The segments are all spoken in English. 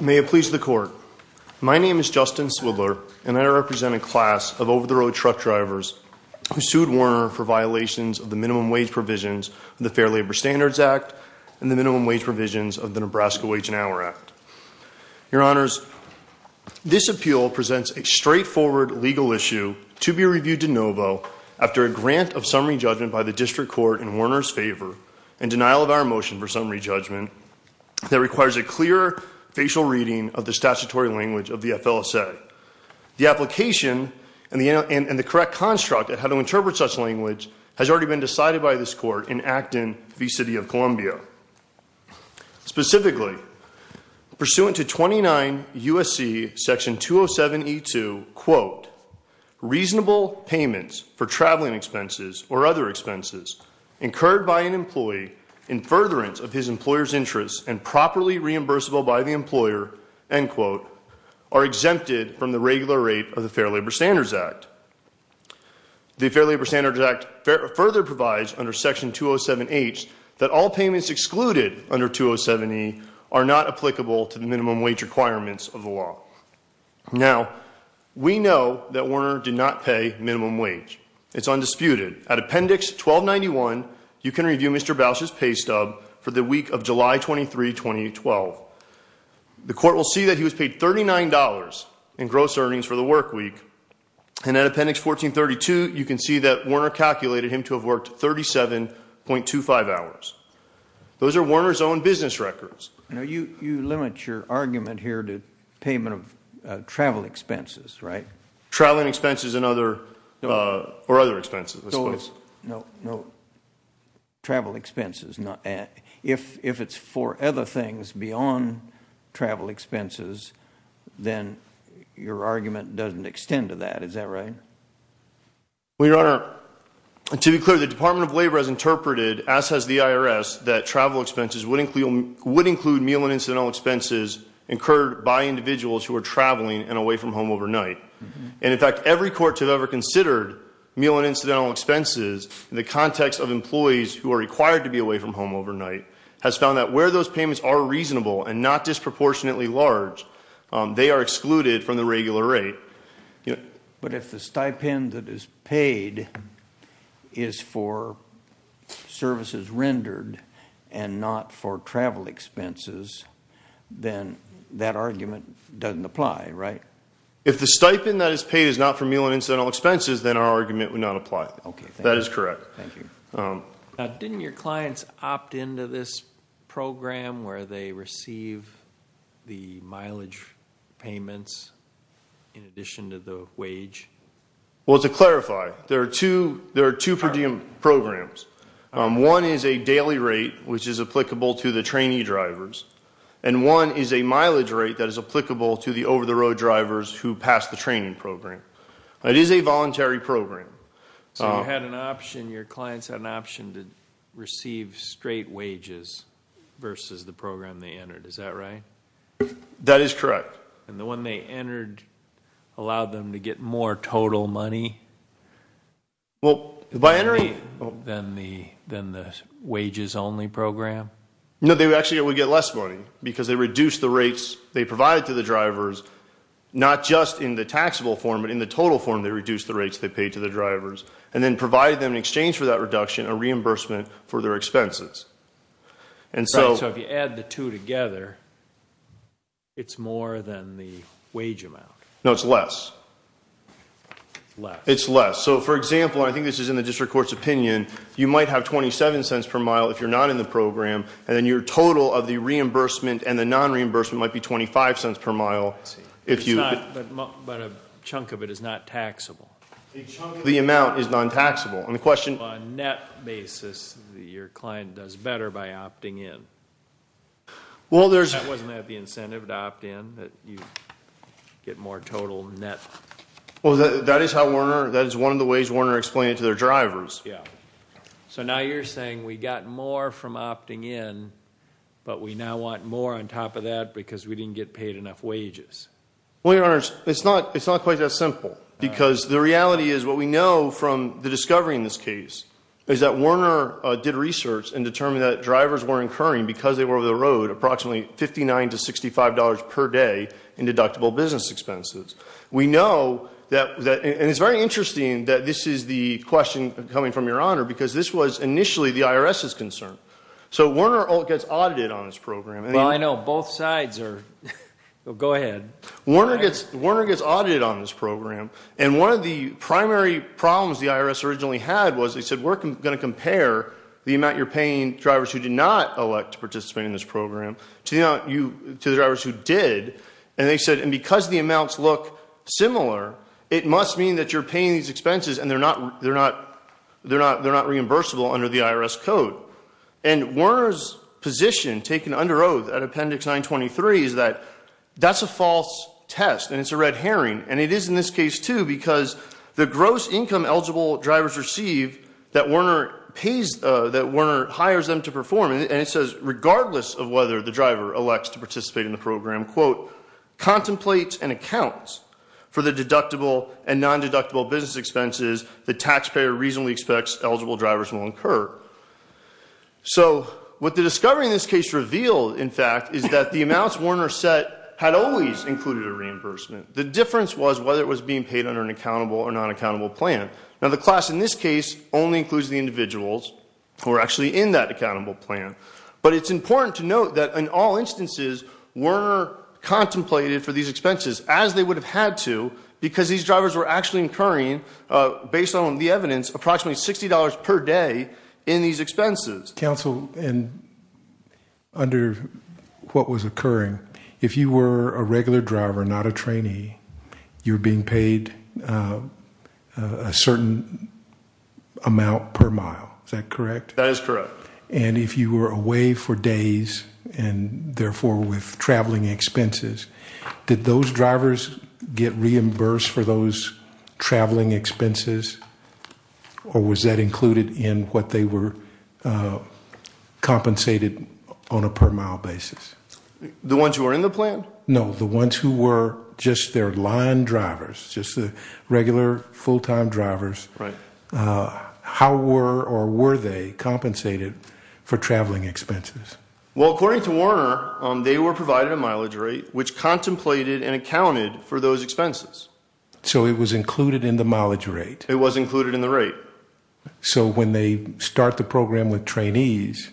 May it please the court. My name is Justin Swidler and I represent a class of over-the-road truck drivers who sued Werner for violations of the minimum wage provisions of the Fair Labor Standards Act and the minimum wage provisions of the Nebraska Wage and Hour Act. Your Honors, this appeal presents a straightforward legal issue to be reviewed de novo after a grant of summary judgment by the District Court in Werner's favor and denial of our motion for summary judgment that requires a clear facial reading of the statutory language of the FLSA. The application and the correct construct of how to interpret such language has already been decided by this court in Acton v. City of Columbia. Specifically, pursuant to 29 U.S.C. section 207E2, quote, reasonable payments for traveling expenses or other expenses incurred by an employee in furtherance of his employer's interests and properly reimbursable by the employer, end quote, are exempted from the regular rate of the Fair Labor Standards Act. The Fair Labor Standards Act further provides under section 207H that all payments excluded under 207E are not applicable to the minimum wage requirements of the law. Now, we know that Werner did not pay minimum wage. It's undisputed. At Appendix 1291, you can review Mr. Bausch's pay stub for the week of July 23, 2012. The court will see that he was paid $39 in gross earnings for the work week, and at Appendix 1432, you can see that Werner calculated him to have worked 37.25 hours. Those are Werner's own business records. Now, you limit your argument here to payment of travel expenses, right? Traveling expenses and other, or other expenses, I suppose. No, no, travel expenses. If it's for other things beyond travel expenses, then your argument doesn't extend to that. Is that right? Well, Your Honor, to be clear, the Department of Labor has interpreted, as has the IRS, that travel expenses would include meal and incidental expenses incurred by individuals who are traveling and away from home overnight. And, in fact, every court to have ever considered meal and incidental expenses in the context of employees who are required to be away from home overnight has found that where those payments are reasonable and not disproportionately large, they are excluded from the regular rate. But if the stipend that is paid is for services rendered and not for travel expenses, then that argument doesn't apply, right? If the stipend that is paid is not for meal and incidental expenses, then our argument would not apply. Okay, thank you. That is correct. Thank you. Now, didn't your clients opt into this program where they receive the mileage payments in addition to the wage? Well, to clarify, there are two, there are two per diem programs. One is a daily rate, which is applicable to the trainee drivers. And one is a mileage rate that is applicable to the over-the-road drivers who pass the training program. It is a voluntary program. So you had an option, your clients had an option to receive straight wages versus the program they entered, is that right? That is correct. And the one they entered allowed them to get more total money? Well, by entering... Than the wages only program? No, they actually would get less money because they reduced the rates they provided to the drivers, not just in the taxable form, but in the total form they reduced the rates they paid to the drivers and then provided them in exchange for that reduction a reimbursement for their expenses. And so... Right, so if you add the two together, it's more than the wage amount. No, it's less. Less. It's less. So, for example, I think this is in the district court's opinion, you might have 27 cents per mile if you're not in the program, and then your total of the reimbursement and the non-reimbursement might be 25 cents per mile if you... But a chunk of it is not taxable. The amount is non-taxable. And the question... So on a net basis, your client does better by opting in. Well, there's... That wasn't at the incentive to opt in, that you get more total net... Well, that is how Werner... That is one of the ways Werner explained it to their drivers. Yeah. So now you're saying we got more from opting in, but we now want more on top of that because we didn't get paid enough wages. Well, your honors, it's not quite that simple, because the reality is what we know from the discovery in this case is that Werner did research and determined that drivers were incurring, because they were over the road, approximately $59 to $65 per day in deductible business expenses. We know that... And it's very interesting that this is the question coming from your honor, because this was initially the IRS's concern. So Werner gets audited on this program. Well, I know. Both sides are... Go ahead. Werner gets audited on this program, and one of the primary problems the IRS originally had was they said, we're going to compare the amount you're paying drivers who did not elect to participate in this program to the drivers who did. And they said, and because the amounts look similar, it must mean that you're paying these expenses and they're not reimbursable under the IRS code. And Werner's position, taken under oath at Appendix 923, is that that's a false test and it's a red herring, and it is in this case too, because the gross income eligible drivers receive that Werner pays... That Werner hires them to perform, and it says regardless of whether the driver elects to participate in the program, quote, contemplates and accounts for the deductible and non-deductible business expenses the taxpayer reasonably expects eligible drivers will incur. So what the discovery in this case revealed, in fact, is that the amounts Werner set had always included a reimbursement. The difference was whether it was being paid under an accountable or non-accountable plan. Now, the class in this case only includes the individuals who are actually in that accountable plan, but it's important to note that in all instances Werner contemplated for these expenses as they would have had to, because these drivers were actually incurring, based on the evidence, approximately $60 per day in these expenses. Counsel, under what was occurring, if you were a regular driver, not a trainee, you're being paid a certain amount per mile, is that correct? That is correct. And if you were away for days, and therefore with traveling expenses, did those drivers get reimbursed for those traveling expenses, or was that included in what they were compensated on a per mile basis? The ones who were in the plan? No, the ones who were just their line drivers, just the regular full-time drivers. Right. How were or were they compensated for traveling expenses? Well, according to Werner, they were provided a mileage rate which contemplated and accounted for those expenses. So it was included in the mileage rate? It was included in the rate. So when they start the program with trainees,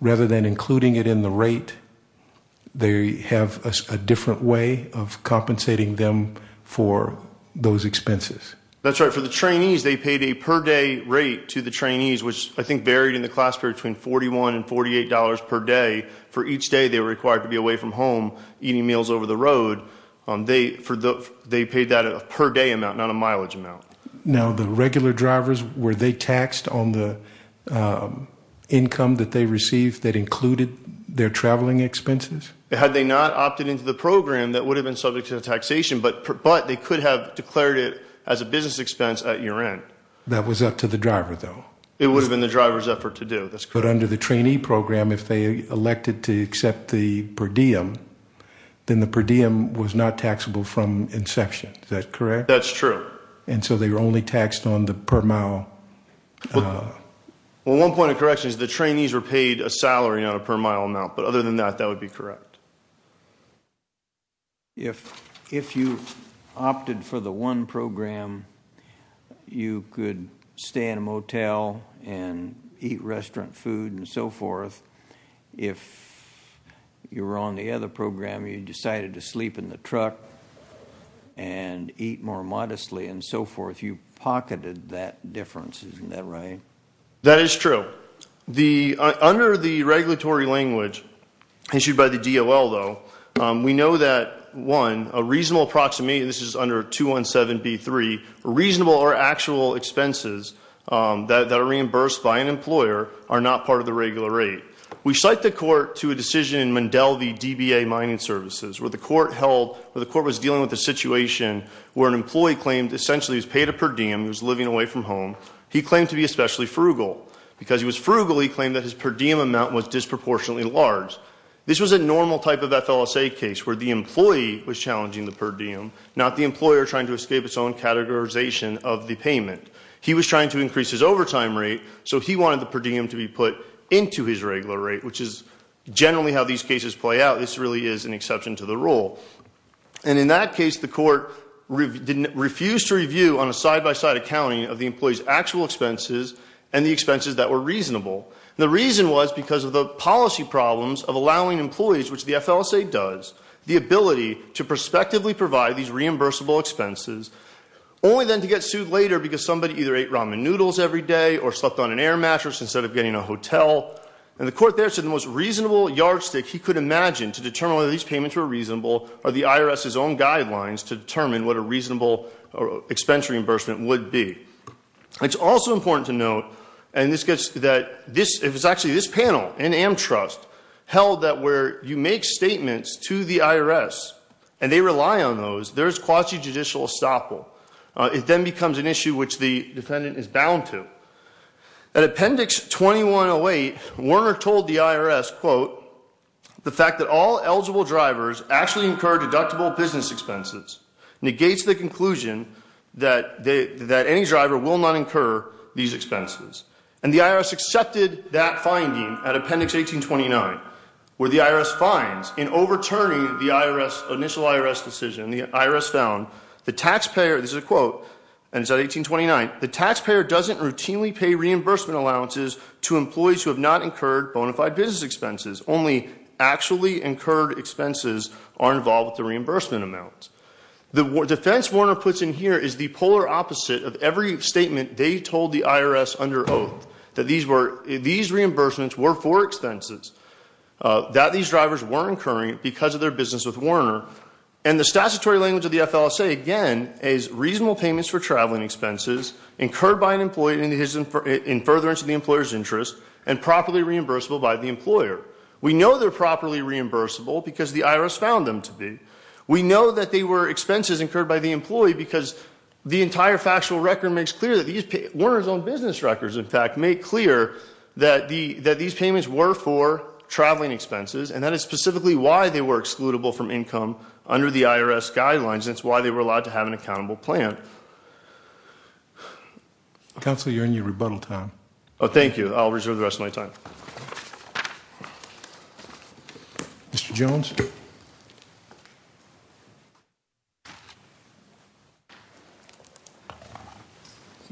rather than including it in the rate, they have a different way of compensating them for those expenses? That's right. For the trainees, they paid a per day rate to the trainees, which I think varied in the class period between $41 and $48 per day. For each day, they were required to be away from home, eating meals over the road. They paid that at a per day amount, not a mileage amount. Now, the regular drivers, were they taxed on the income that they received that included their traveling expenses? Had they not opted into the program, that would have been subject to taxation, but they could have declared it as a business expense at your end. That was up to the driver, though? It would have been the driver's effort to do. But under the trainee program, if they elected to accept the per diem, then the per diem was not taxable from inception. Is that correct? That's true. And so they were only taxed on the per mile? Well, one point of correction is the trainees were paid a salary on a per mile amount, but other than that, that would be correct. If you opted for the one program, you could stay in a motel and eat restaurant food and so forth. If you were on the other program, you decided to sleep in the truck and eat more modestly and so forth. You pocketed that difference, isn't that right? That is true. Under the regulatory language issued by the DOL, though, we know that, one, a reasonable approximation, this is under 217B3, reasonable or actual expenses that are reimbursed by an employer are not part of the regular rate. We cite the court to a decision in Mandelby DBA Mining Services, where the court was dealing with a situation where an employee claimed essentially he was paid a per diem, he was living away from home. He claimed to be especially frugal. Because he was frugal, he claimed that his per diem amount was disproportionately large. This was a normal type of FLSA case where the employee was challenging the per diem, not the employer trying to escape its own categorization of the payment. He was trying to increase his overtime rate, so he wanted the per diem to be put into his regular rate, which is generally how these cases play out. This really is an exception to the rule. And in that case, the court refused to review on a side-by-side accounting of the employee's actual expenses and the expenses that were reasonable. The reason was because of the policy problems of allowing employees, which the FLSA does, the ability to prospectively provide these reimbursable expenses, only then to get sued later because somebody either ate ramen noodles every day or slept on an air mattress instead of getting a hotel. And the court there said the most reasonable yardstick he could imagine to determine whether these payments were reasonable are the IRS's own guidelines to determine what a reasonable expensory reimbursement would be. It's also important to note, and this gets to that, this, it was actually this panel in AmTrust held that where you make statements to the IRS and they rely on those, there is quasi-judicial estoppel. It then becomes an issue which the defendant is bound to. At Appendix 2108, Warner told the IRS, quote, the fact that all eligible drivers actually incur deductible business expenses negates the conclusion that any driver will not incur these expenses. And the IRS accepted that finding at Appendix 1829, where the IRS finds in overturning the IRS, initial IRS decision, the IRS found the taxpayer, this is a quote, and it's at 1829, the taxpayer doesn't routinely pay reimbursement allowances to employees who have not incurred bona fide business expenses. Only actually incurred expenses are involved with the reimbursement amount. The defense Warner puts in here is the polar opposite of every statement they told the IRS under oath that these reimbursements were for expenses that these drivers were incurring because of their business with Warner. And the statutory language of the FLSA, again, is reasonable payments for traveling expenses incurred by an employee in furtherance of the employer's interest and properly reimbursable by the employer. We know they're properly reimbursable because the IRS found them to be. We know that they were expenses incurred by the employee because the entire factual record makes clear that these, Warner's own business records, in fact, make clear that these payments were for traveling expenses. And that is specifically why they were excludable from income under the IRS guidelines. That's why they were allowed to have an accountable plan. Counselor, you're in your rebuttal time. Oh, thank you. I'll reserve the rest of my time. Mr. Jones.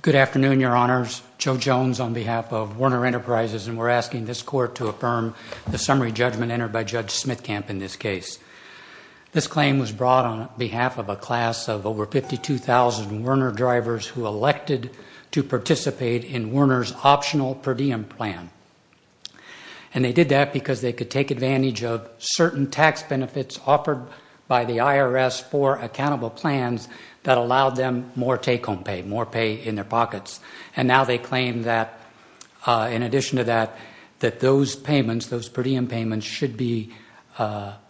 Good afternoon, your honors. Joe Jones on behalf of Warner Enterprises, and we're asking this court to affirm the summary judgment entered by Judge Smithcamp in this case. This claim was brought on behalf of a class of over 52,000 Warner drivers who elected to participate in Warner's optional per diem plan. And they did that because they could take advantage of certain tax benefits offered by the IRS for accountable plans that allowed them more take-home pay, more pay in their pockets. And now they claim that, in addition to that, that those payments, those per diem payments should be,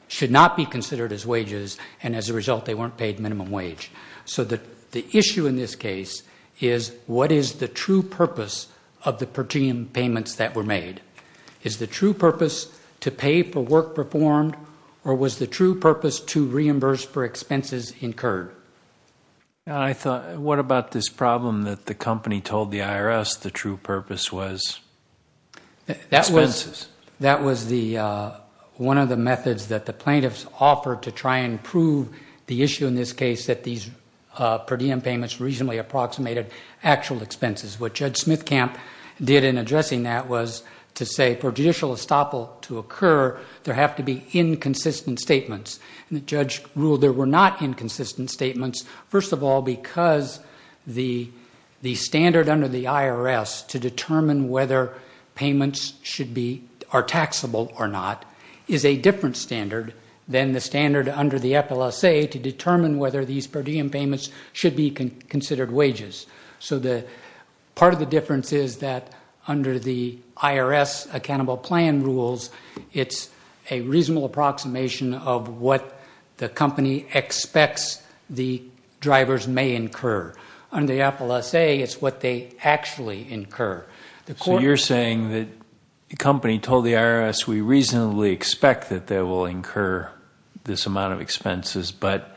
should not be considered as wages, and as a result, they weren't paid minimum wage. So the issue in this case is what is the true purpose of the per diem payments that were made? Is the true purpose to pay for work performed, or was the true purpose to reimburse for expenses incurred? And I thought, what about this problem that the company told the IRS the true purpose was expenses? That was the, one of the methods that the plaintiffs offered to try and prove the issue in this case that these per diem payments reasonably approximated actual expenses. What Judge Smithcamp did in addressing that was to say, for judicial estoppel to occur, there have to be inconsistent statements. And the judge ruled there were not inconsistent statements, first of all, because the standard under the IRS to determine whether payments should be, are taxable or not, is a different standard than the standard under the FLSA to determine whether these per diem payments should be considered wages. So the, part of the difference is that under the IRS accountable plan rules, it's a reasonable approximation of what the company expects the drivers may incur. Under the FLSA, it's what they actually incur. The court- So you're saying that the company told the IRS we reasonably expect that they will incur this amount of expenses, but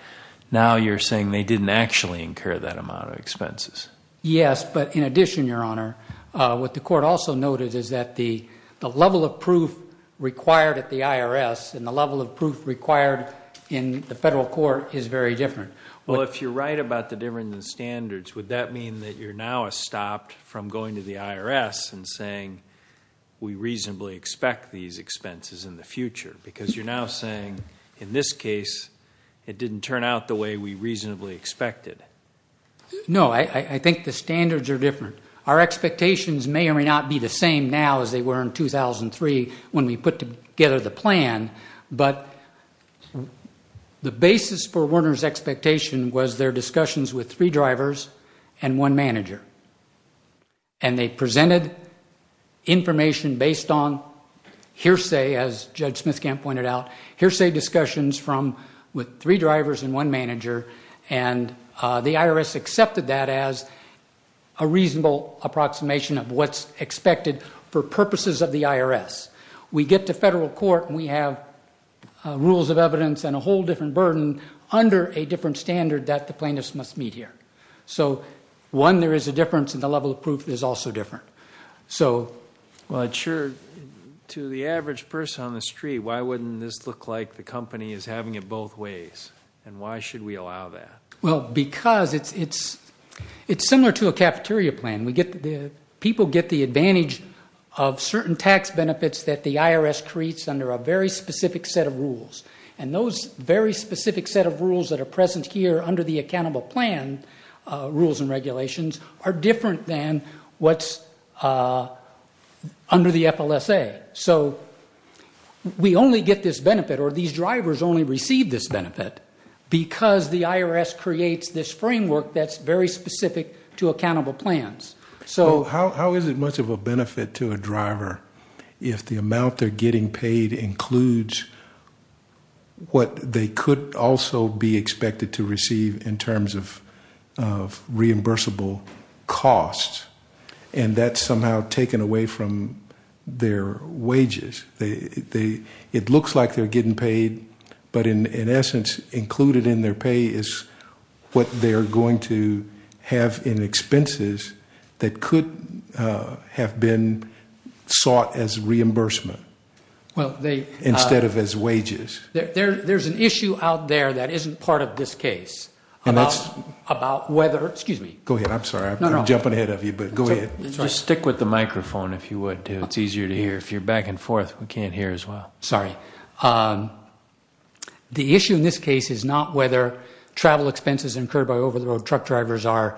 now you're saying they didn't actually incur that amount of expenses. Yes, but in addition, Your Honor, what the court also noted is that the level of proof required at the IRS and the level of proof required in the federal court is very different. Well, if you're right about the difference in standards, would that mean that you're now stopped from going to the IRS and saying we reasonably expect these expenses in the future? Because you're now saying, in this case, it didn't turn out the way we reasonably expected. No, I think the standards are different. Our expectations may or may not be the same now as they were in 2003 when we put together the plan, but the basis for Werner's expectation was their discussions with three drivers and one manager. And they presented information based on hearsay, as Judge Smithkamp pointed out, hearsay discussions from with three drivers and one manager, and the IRS accepted that as a reasonable approximation of what's expected for purposes of the IRS. We get to federal court, and we have rules of evidence and a whole different burden under a different standard that the plaintiffs must meet here. So one, there is a difference, and the level of proof is also different. Well, I'm sure, to the average person on the street, why wouldn't this look like the company is having it both ways, and why should we allow that? Well, because it's similar to a cafeteria plan. People get the advantage of certain tax benefits that the IRS creates under a very specific set of rules, and those very specific set of rules that are present here under the accountable plan rules and regulations are different than what's under the FLSA. So we only get this benefit, or these drivers only receive this benefit, because the IRS creates this framework that's very specific to accountable plans. So how is it much of a benefit to a driver if the amount they're getting paid includes what they could also be expected to receive in terms of reimbursable costs, and that's somehow taken away from their wages? It looks like they're getting paid, but in essence, included in their pay is what they're going to have in expenses that could have been sought as reimbursement instead of as wages. There's an issue out there that isn't part of this case about whether... Excuse me. Go ahead. I'm sorry. I'm jumping ahead of you, but go ahead. Just stick with the microphone, if you would. It's easier to hear. If you're back and forth, we can't hear as well. Sorry. The issue in this case is not whether travel expenses incurred by over-the-road truck drivers are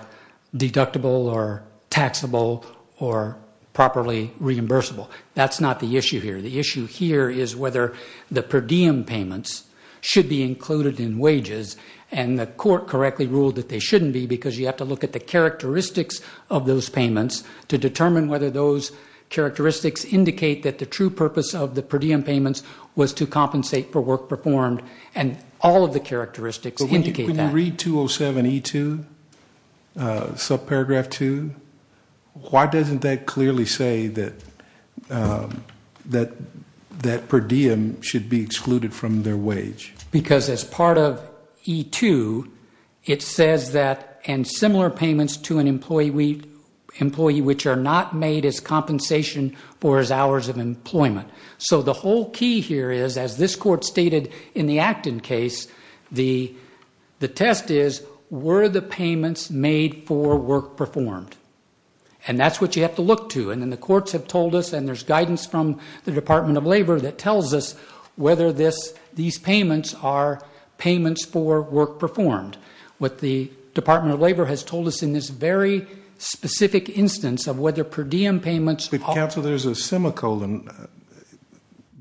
deductible or taxable or properly reimbursable. That's not the issue here. The issue here is whether the per diem payments should be included in wages, and the court correctly ruled that they shouldn't be because you have to look at the characteristics of those payments to determine whether those characteristics indicate that the true purpose of the per diem payments was to compensate for work performed, and all of the characteristics indicate that. Can you read 207E2, subparagraph 2? Why doesn't that clearly say that per diem should be excluded from their wage? Because as part of E2, it says that, and similar payments to an employee which are not made as compensation for his hours of employment. So the whole key here is, as this court stated in the Acton case, the test is, were the payments made for work performed? And that's what you have to look to, and then the courts have told us, and there's guidance from the Department of Labor that tells us whether these payments are payments for work performed. What the Department of Labor has told us in this very specific instance of whether per diem payments- But counsel, there's a semicolon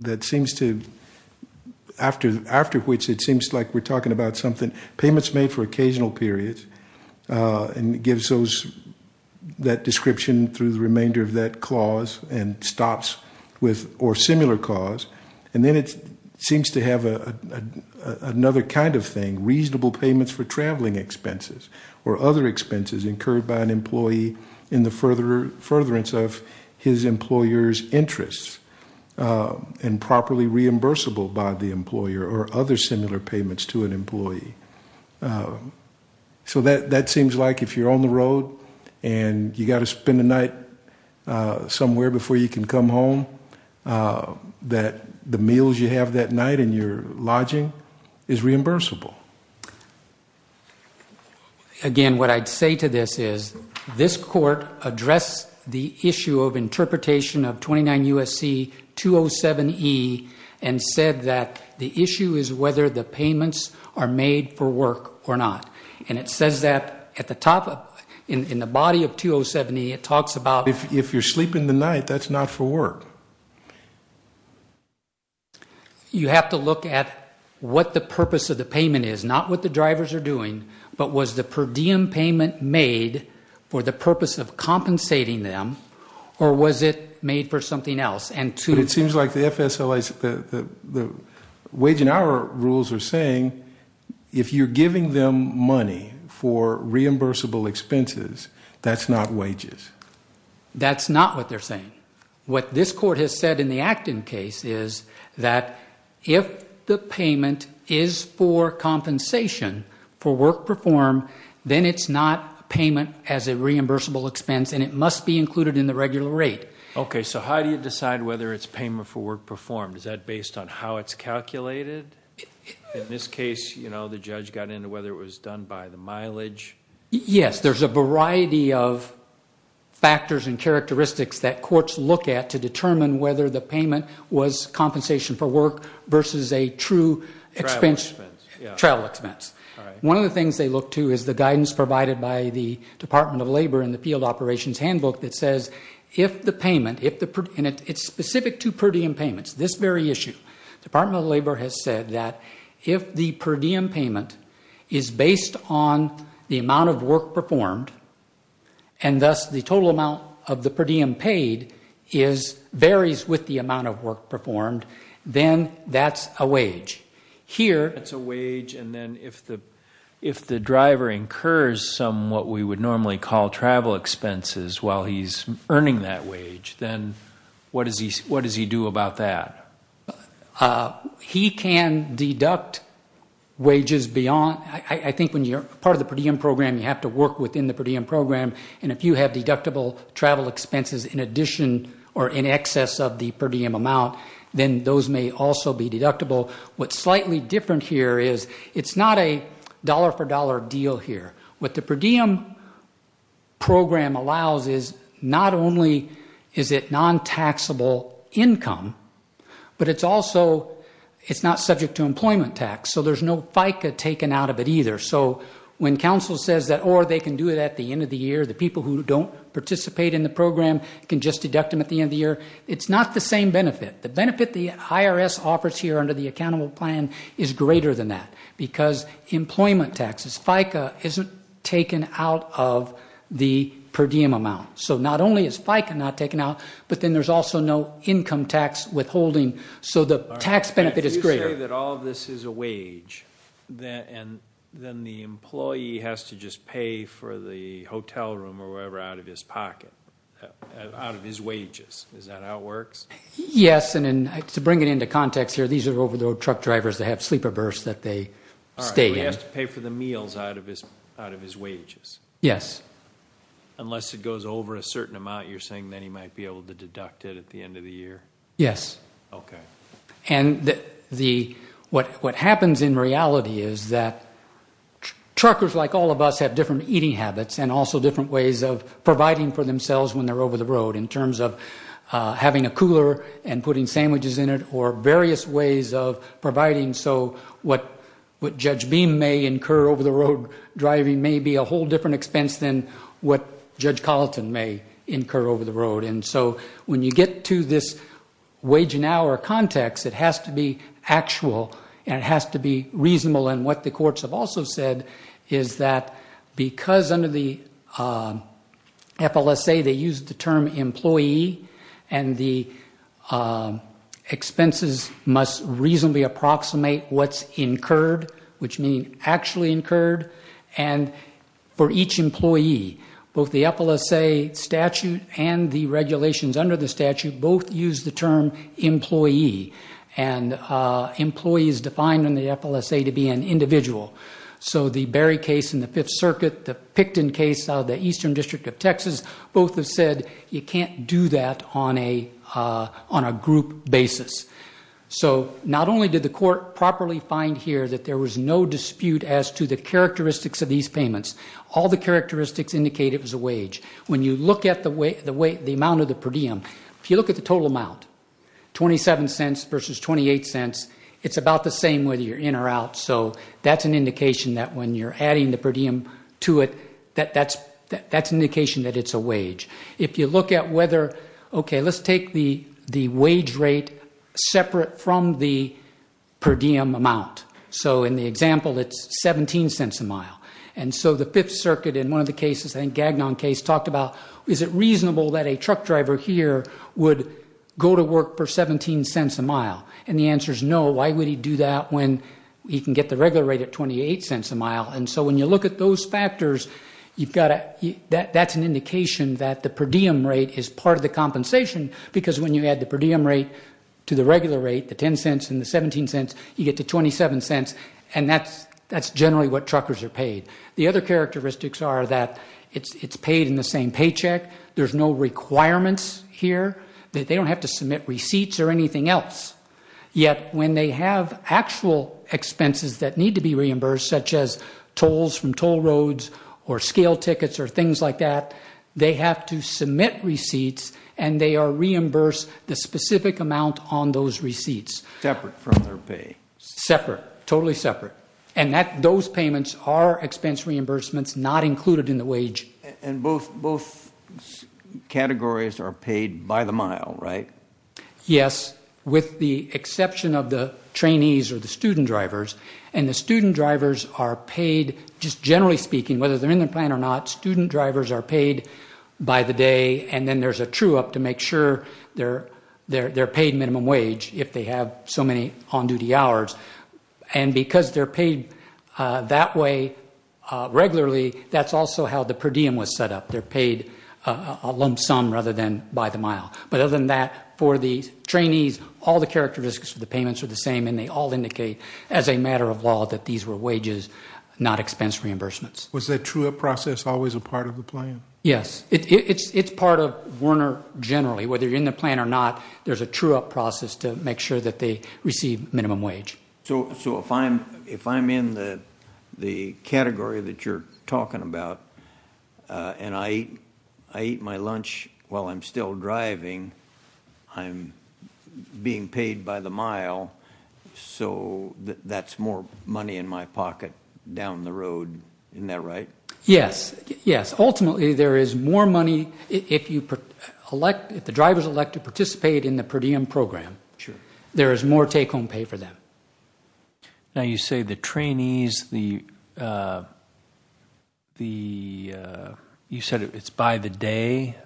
that seems to, after which it seems like we're talking about something, payments made for occasional periods, and it gives those, that description through the remainder of that clause, and stops with, or similar clause, and then it seems to have another kind of thing, reasonable payments for traveling expenses, or other expenses incurred by an employee in the furtherance of his employer's interests, and properly reimbursable by the employer, or other similar payments to an employee. So that seems like if you're on the road, and you've got to spend the night somewhere before you can come home, that the meals you have that night in your lodging is reimbursable. Again, what I'd say to this is, this court addressed the issue of interpretation of 29 and said that the issue is whether the payments are made for work or not. And it says that at the top, in the body of 2070, it talks about- If you're sleeping the night, that's not for work. You have to look at what the purpose of the payment is, not what the drivers are doing, but was the per diem payment made for the purpose of compensating them, or was it made for something else? But it seems like the FSLAs, the wage and hour rules are saying, if you're giving them money for reimbursable expenses, that's not wages. That's not what they're saying. What this court has said in the Acton case is that if the payment is for compensation for work performed, then it's not payment as a reimbursable expense, and it must be included in the regular rate. Okay, so how do you decide whether it's payment for work performed? Is that based on how it's calculated? In this case, the judge got into whether it was done by the mileage. Yes. There's a variety of factors and characteristics that courts look at to determine whether the payment was compensation for work versus a true travel expense. One of the things they look to is the guidance provided by the Department of Labor in the payment, and it's specific to per diem payments, this very issue, the Department of Labor has said that if the per diem payment is based on the amount of work performed, and thus the total amount of the per diem paid varies with the amount of work performed, then that's a wage. That's a wage, and then if the driver incurs some, what we would normally call travel expenses while he's earning that wage, then what does he do about that? He can deduct wages beyond, I think when you're part of the per diem program, you have to work within the per diem program, and if you have deductible travel expenses in addition or in excess of the per diem amount, then those may also be deductible. What's slightly different here is it's not a dollar for dollar deal here. What the per diem program allows is not only is it non-taxable income, but it's also, it's not subject to employment tax, so there's no FICA taken out of it either, so when counsel says that, or they can do it at the end of the year, the people who don't participate in the program can just deduct them at the end of the year, it's not the same benefit. The benefit the IRS offers here under the accountable plan is greater than that, because employment taxes, FICA isn't taken out of the per diem amount, so not only is FICA not taken out, but then there's also no income tax withholding, so the tax benefit is greater. If you say that all of this is a wage, then the employee has to just pay for the hotel room or whatever out of his pocket, out of his wages, is that how it works? Yes, and to bring it into context here, these are over the road truck drivers that have to pay for the meals out of his wages, unless it goes over a certain amount, you're saying that he might be able to deduct it at the end of the year? Yes, and what happens in reality is that truckers like all of us have different eating habits and also different ways of providing for themselves when they're over the road, in terms of having a cooler and putting sandwiches in it, or various ways of providing so what Judge Beam may incur over the road driving may be a whole different expense than what Judge Colleton may incur over the road. When you get to this wage and hour context, it has to be actual and it has to be reasonable. What the courts have also said is that because under the FLSA they use the term employee and the expenses must reasonably approximate what's incurred, which means actually incurred, and for each employee, both the FLSA statute and the regulations under the statute both use the term employee, and employee is defined in the FLSA to be an individual. The Berry case in the Fifth Circuit, the Picton case of the Eastern District of Texas, both have said you can't do that on a group basis. So not only did the court properly find here that there was no dispute as to the characteristics of these payments, all the characteristics indicate it was a wage. When you look at the amount of the per diem, if you look at the total amount, 27 cents versus 28 cents, it's about the same whether you're in or out, so that's an indication that when you're adding the per diem to it, that's an indication that it's a wage. If you look at whether, okay, let's take the wage rate separate from the per diem amount. So in the example, it's 17 cents a mile. And so the Fifth Circuit in one of the cases, I think Gagnon case, talked about is it reasonable that a truck driver here would go to work for 17 cents a mile, and the answer is no. Why would he do that when he can get the regular rate at 28 cents a mile? And so when you look at those factors, that's an indication that the per diem rate is part of the compensation because when you add the per diem rate to the regular rate, the 10 cents and the 17 cents, you get to 27 cents, and that's generally what truckers are paid. The other characteristics are that it's paid in the same paycheck. There's no requirements here. They don't have to submit receipts or anything else. Yet when they have actual expenses that need to be reimbursed, such as tolls from toll roads or scale tickets or things like that, they have to submit receipts and they are reimbursed the specific amount on those receipts. Separate from their pay. Separate. Totally separate. And those payments are expense reimbursements not included in the wage. And both categories are paid by the mile, right? Yes, with the exception of the trainees or the student drivers. And the student drivers are paid, just generally speaking, whether they're in the plan or not, student drivers are paid by the day and then there's a true-up to make sure they're paid minimum wage if they have so many on-duty hours. And because they're paid that way regularly, that's also how the per diem was set up. They're paid a lump sum rather than by the mile. But other than that, for the trainees, all the characteristics of the payments are the same and they all indicate as a matter of law that these were wages, not expense reimbursements. Was that true-up process always a part of the plan? Yes, it's part of Werner generally. Whether you're in the plan or not, there's a true-up process to make sure that they receive minimum wage. So if I'm in the category that you're talking about and I eat my lunch while I'm still driving, I'm being paid by the mile, so that's more money in my pocket down the road. Isn't that right? Yes. Yes. Ultimately, there is more money if the drivers elect to participate in the per diem program. There is more take-home pay for them. Now, you say the trainees, you said it's by the day.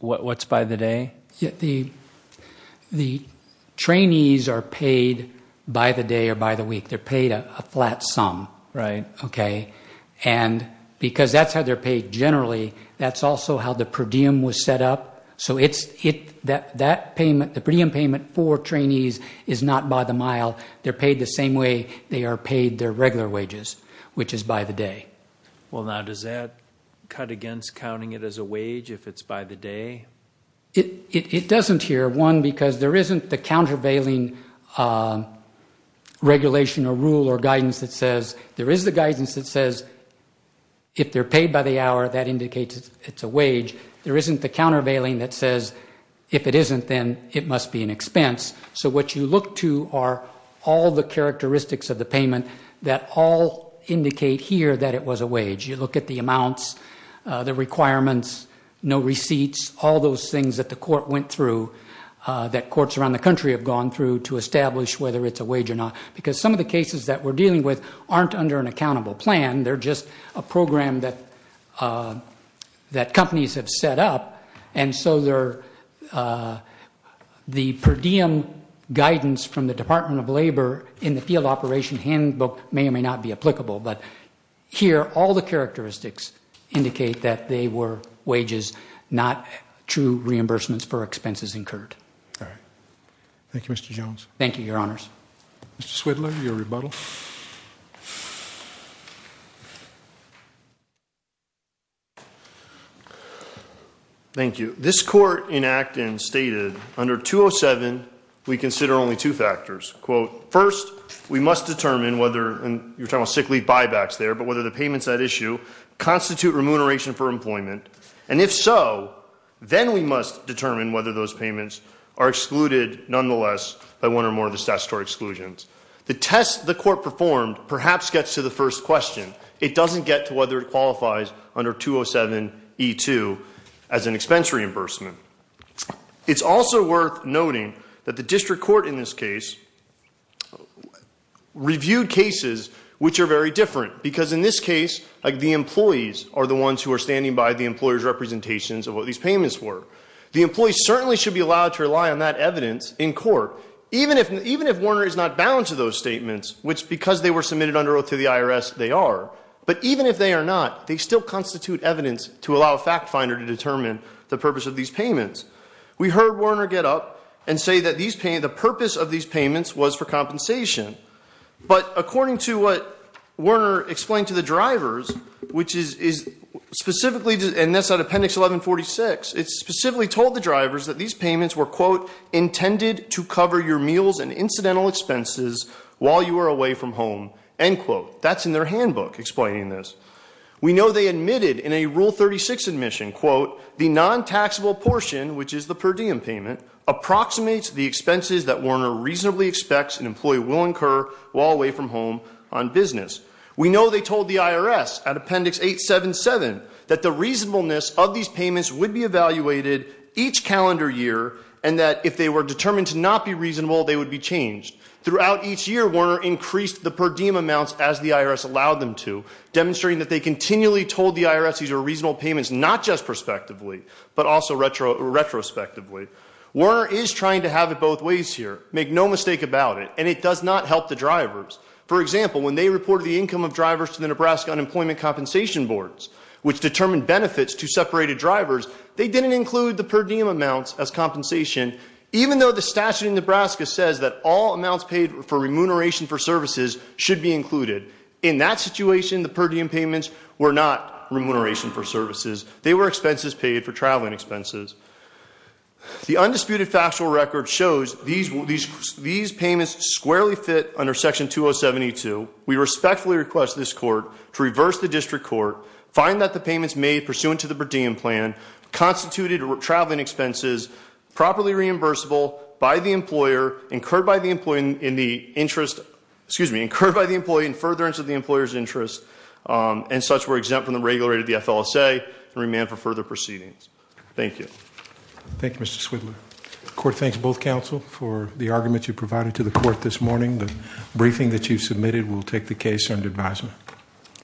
What's by the day? The trainees are paid by the day or by the week. They're paid a flat sum. Because that's how they're paid generally, that's also how the per diem was set up. So the per diem payment for trainees is not by the mile. They're paid the same way they are paid their regular wages, which is by the day. Well, now, does that cut against counting it as a wage if it's by the day? It doesn't here. One, because there isn't the countervailing regulation or rule or guidance that says, there is the guidance that says, if they're paid by the hour, that indicates it's a wage. There isn't the countervailing that says, if it isn't, then it must be an expense. So what you look to are all the characteristics of the payment that all indicate here that it was a wage. You look at the amounts, the requirements, no receipts, all those things that the court went through, that courts around the country have gone through to establish whether it's a wage or not. Because some of the cases that we're dealing with aren't under an accountable plan. They're just a program that companies have set up. And so the per diem guidance from the Department of Labor in the field operation handbook may or may not be applicable. But here, all the characteristics indicate that they were wages, not true reimbursements for expenses incurred. All right. Thank you, Mr. Jones. Thank you, Your Honors. Mr. Swidler, your rebuttal. Thank you. This court in Acton stated, under 207, we consider only two factors. Quote, first, we must determine whether, and you're talking about sick leave buybacks there, but whether the payments at issue constitute remuneration for employment. And if so, then we must determine whether those payments are excluded nonetheless by one or more of the statutory exclusions. The test the court performed perhaps gets to the first question. It doesn't get to whether it qualifies under 207E2 as an expense reimbursement. It's also worth noting that the district court in this case reviewed cases which are very different. Because in this case, the employees are the ones who are standing by the employer's representations of what these payments were. So even if Warner is not bound to those statements, which because they were submitted under oath to the IRS, they are. But even if they are not, they still constitute evidence to allow a fact finder to determine the purpose of these payments. We heard Warner get up and say that the purpose of these payments was for compensation. But according to what Warner explained to the drivers, which is specifically, and that's on appendix 1146, it specifically told the drivers that these payments were, quote, intended to cover your meals and incidental expenses while you were away from home, end quote. That's in their handbook explaining this. We know they admitted in a rule 36 admission, quote, the non-taxable portion, which is the per diem payment, approximates the expenses that Warner reasonably expects an employee will incur while away from home on business. We know they told the IRS at appendix 877 that the reasonableness of these payments would be evaluated each calendar year and that if they were determined to not be reasonable, they would be changed. Throughout each year, Warner increased the per diem amounts as the IRS allowed them to, demonstrating that they continually told the IRS these were reasonable payments, not just prospectively, but also retrospectively. Warner is trying to have it both ways here. Make no mistake about it. And it does not help the drivers. For example, when they reported the income of drivers to the Nebraska Unemployment Compensation Boards, which determined benefits to separated drivers, they didn't include the per diem amounts as compensation, even though the statute in Nebraska says that all amounts paid for remuneration for services should be included. In that situation, the per diem payments were not remuneration for services. They were expenses paid for traveling expenses. The undisputed factual record shows these payments squarely fit under section 2072. We respectfully request this court to reverse the district court, find that the payments made pursuant to the per diem plan constituted traveling expenses properly reimbursable by the employer, incurred by the employee in furtherance of the employer's interest, and such were exempt from the regular rate of the FLSA and remand for further proceedings. Thank you. Thank you, Mr. Swidler. The court thanks both counsel for the argument you provided to the court this morning, the committee will take the case under advisement.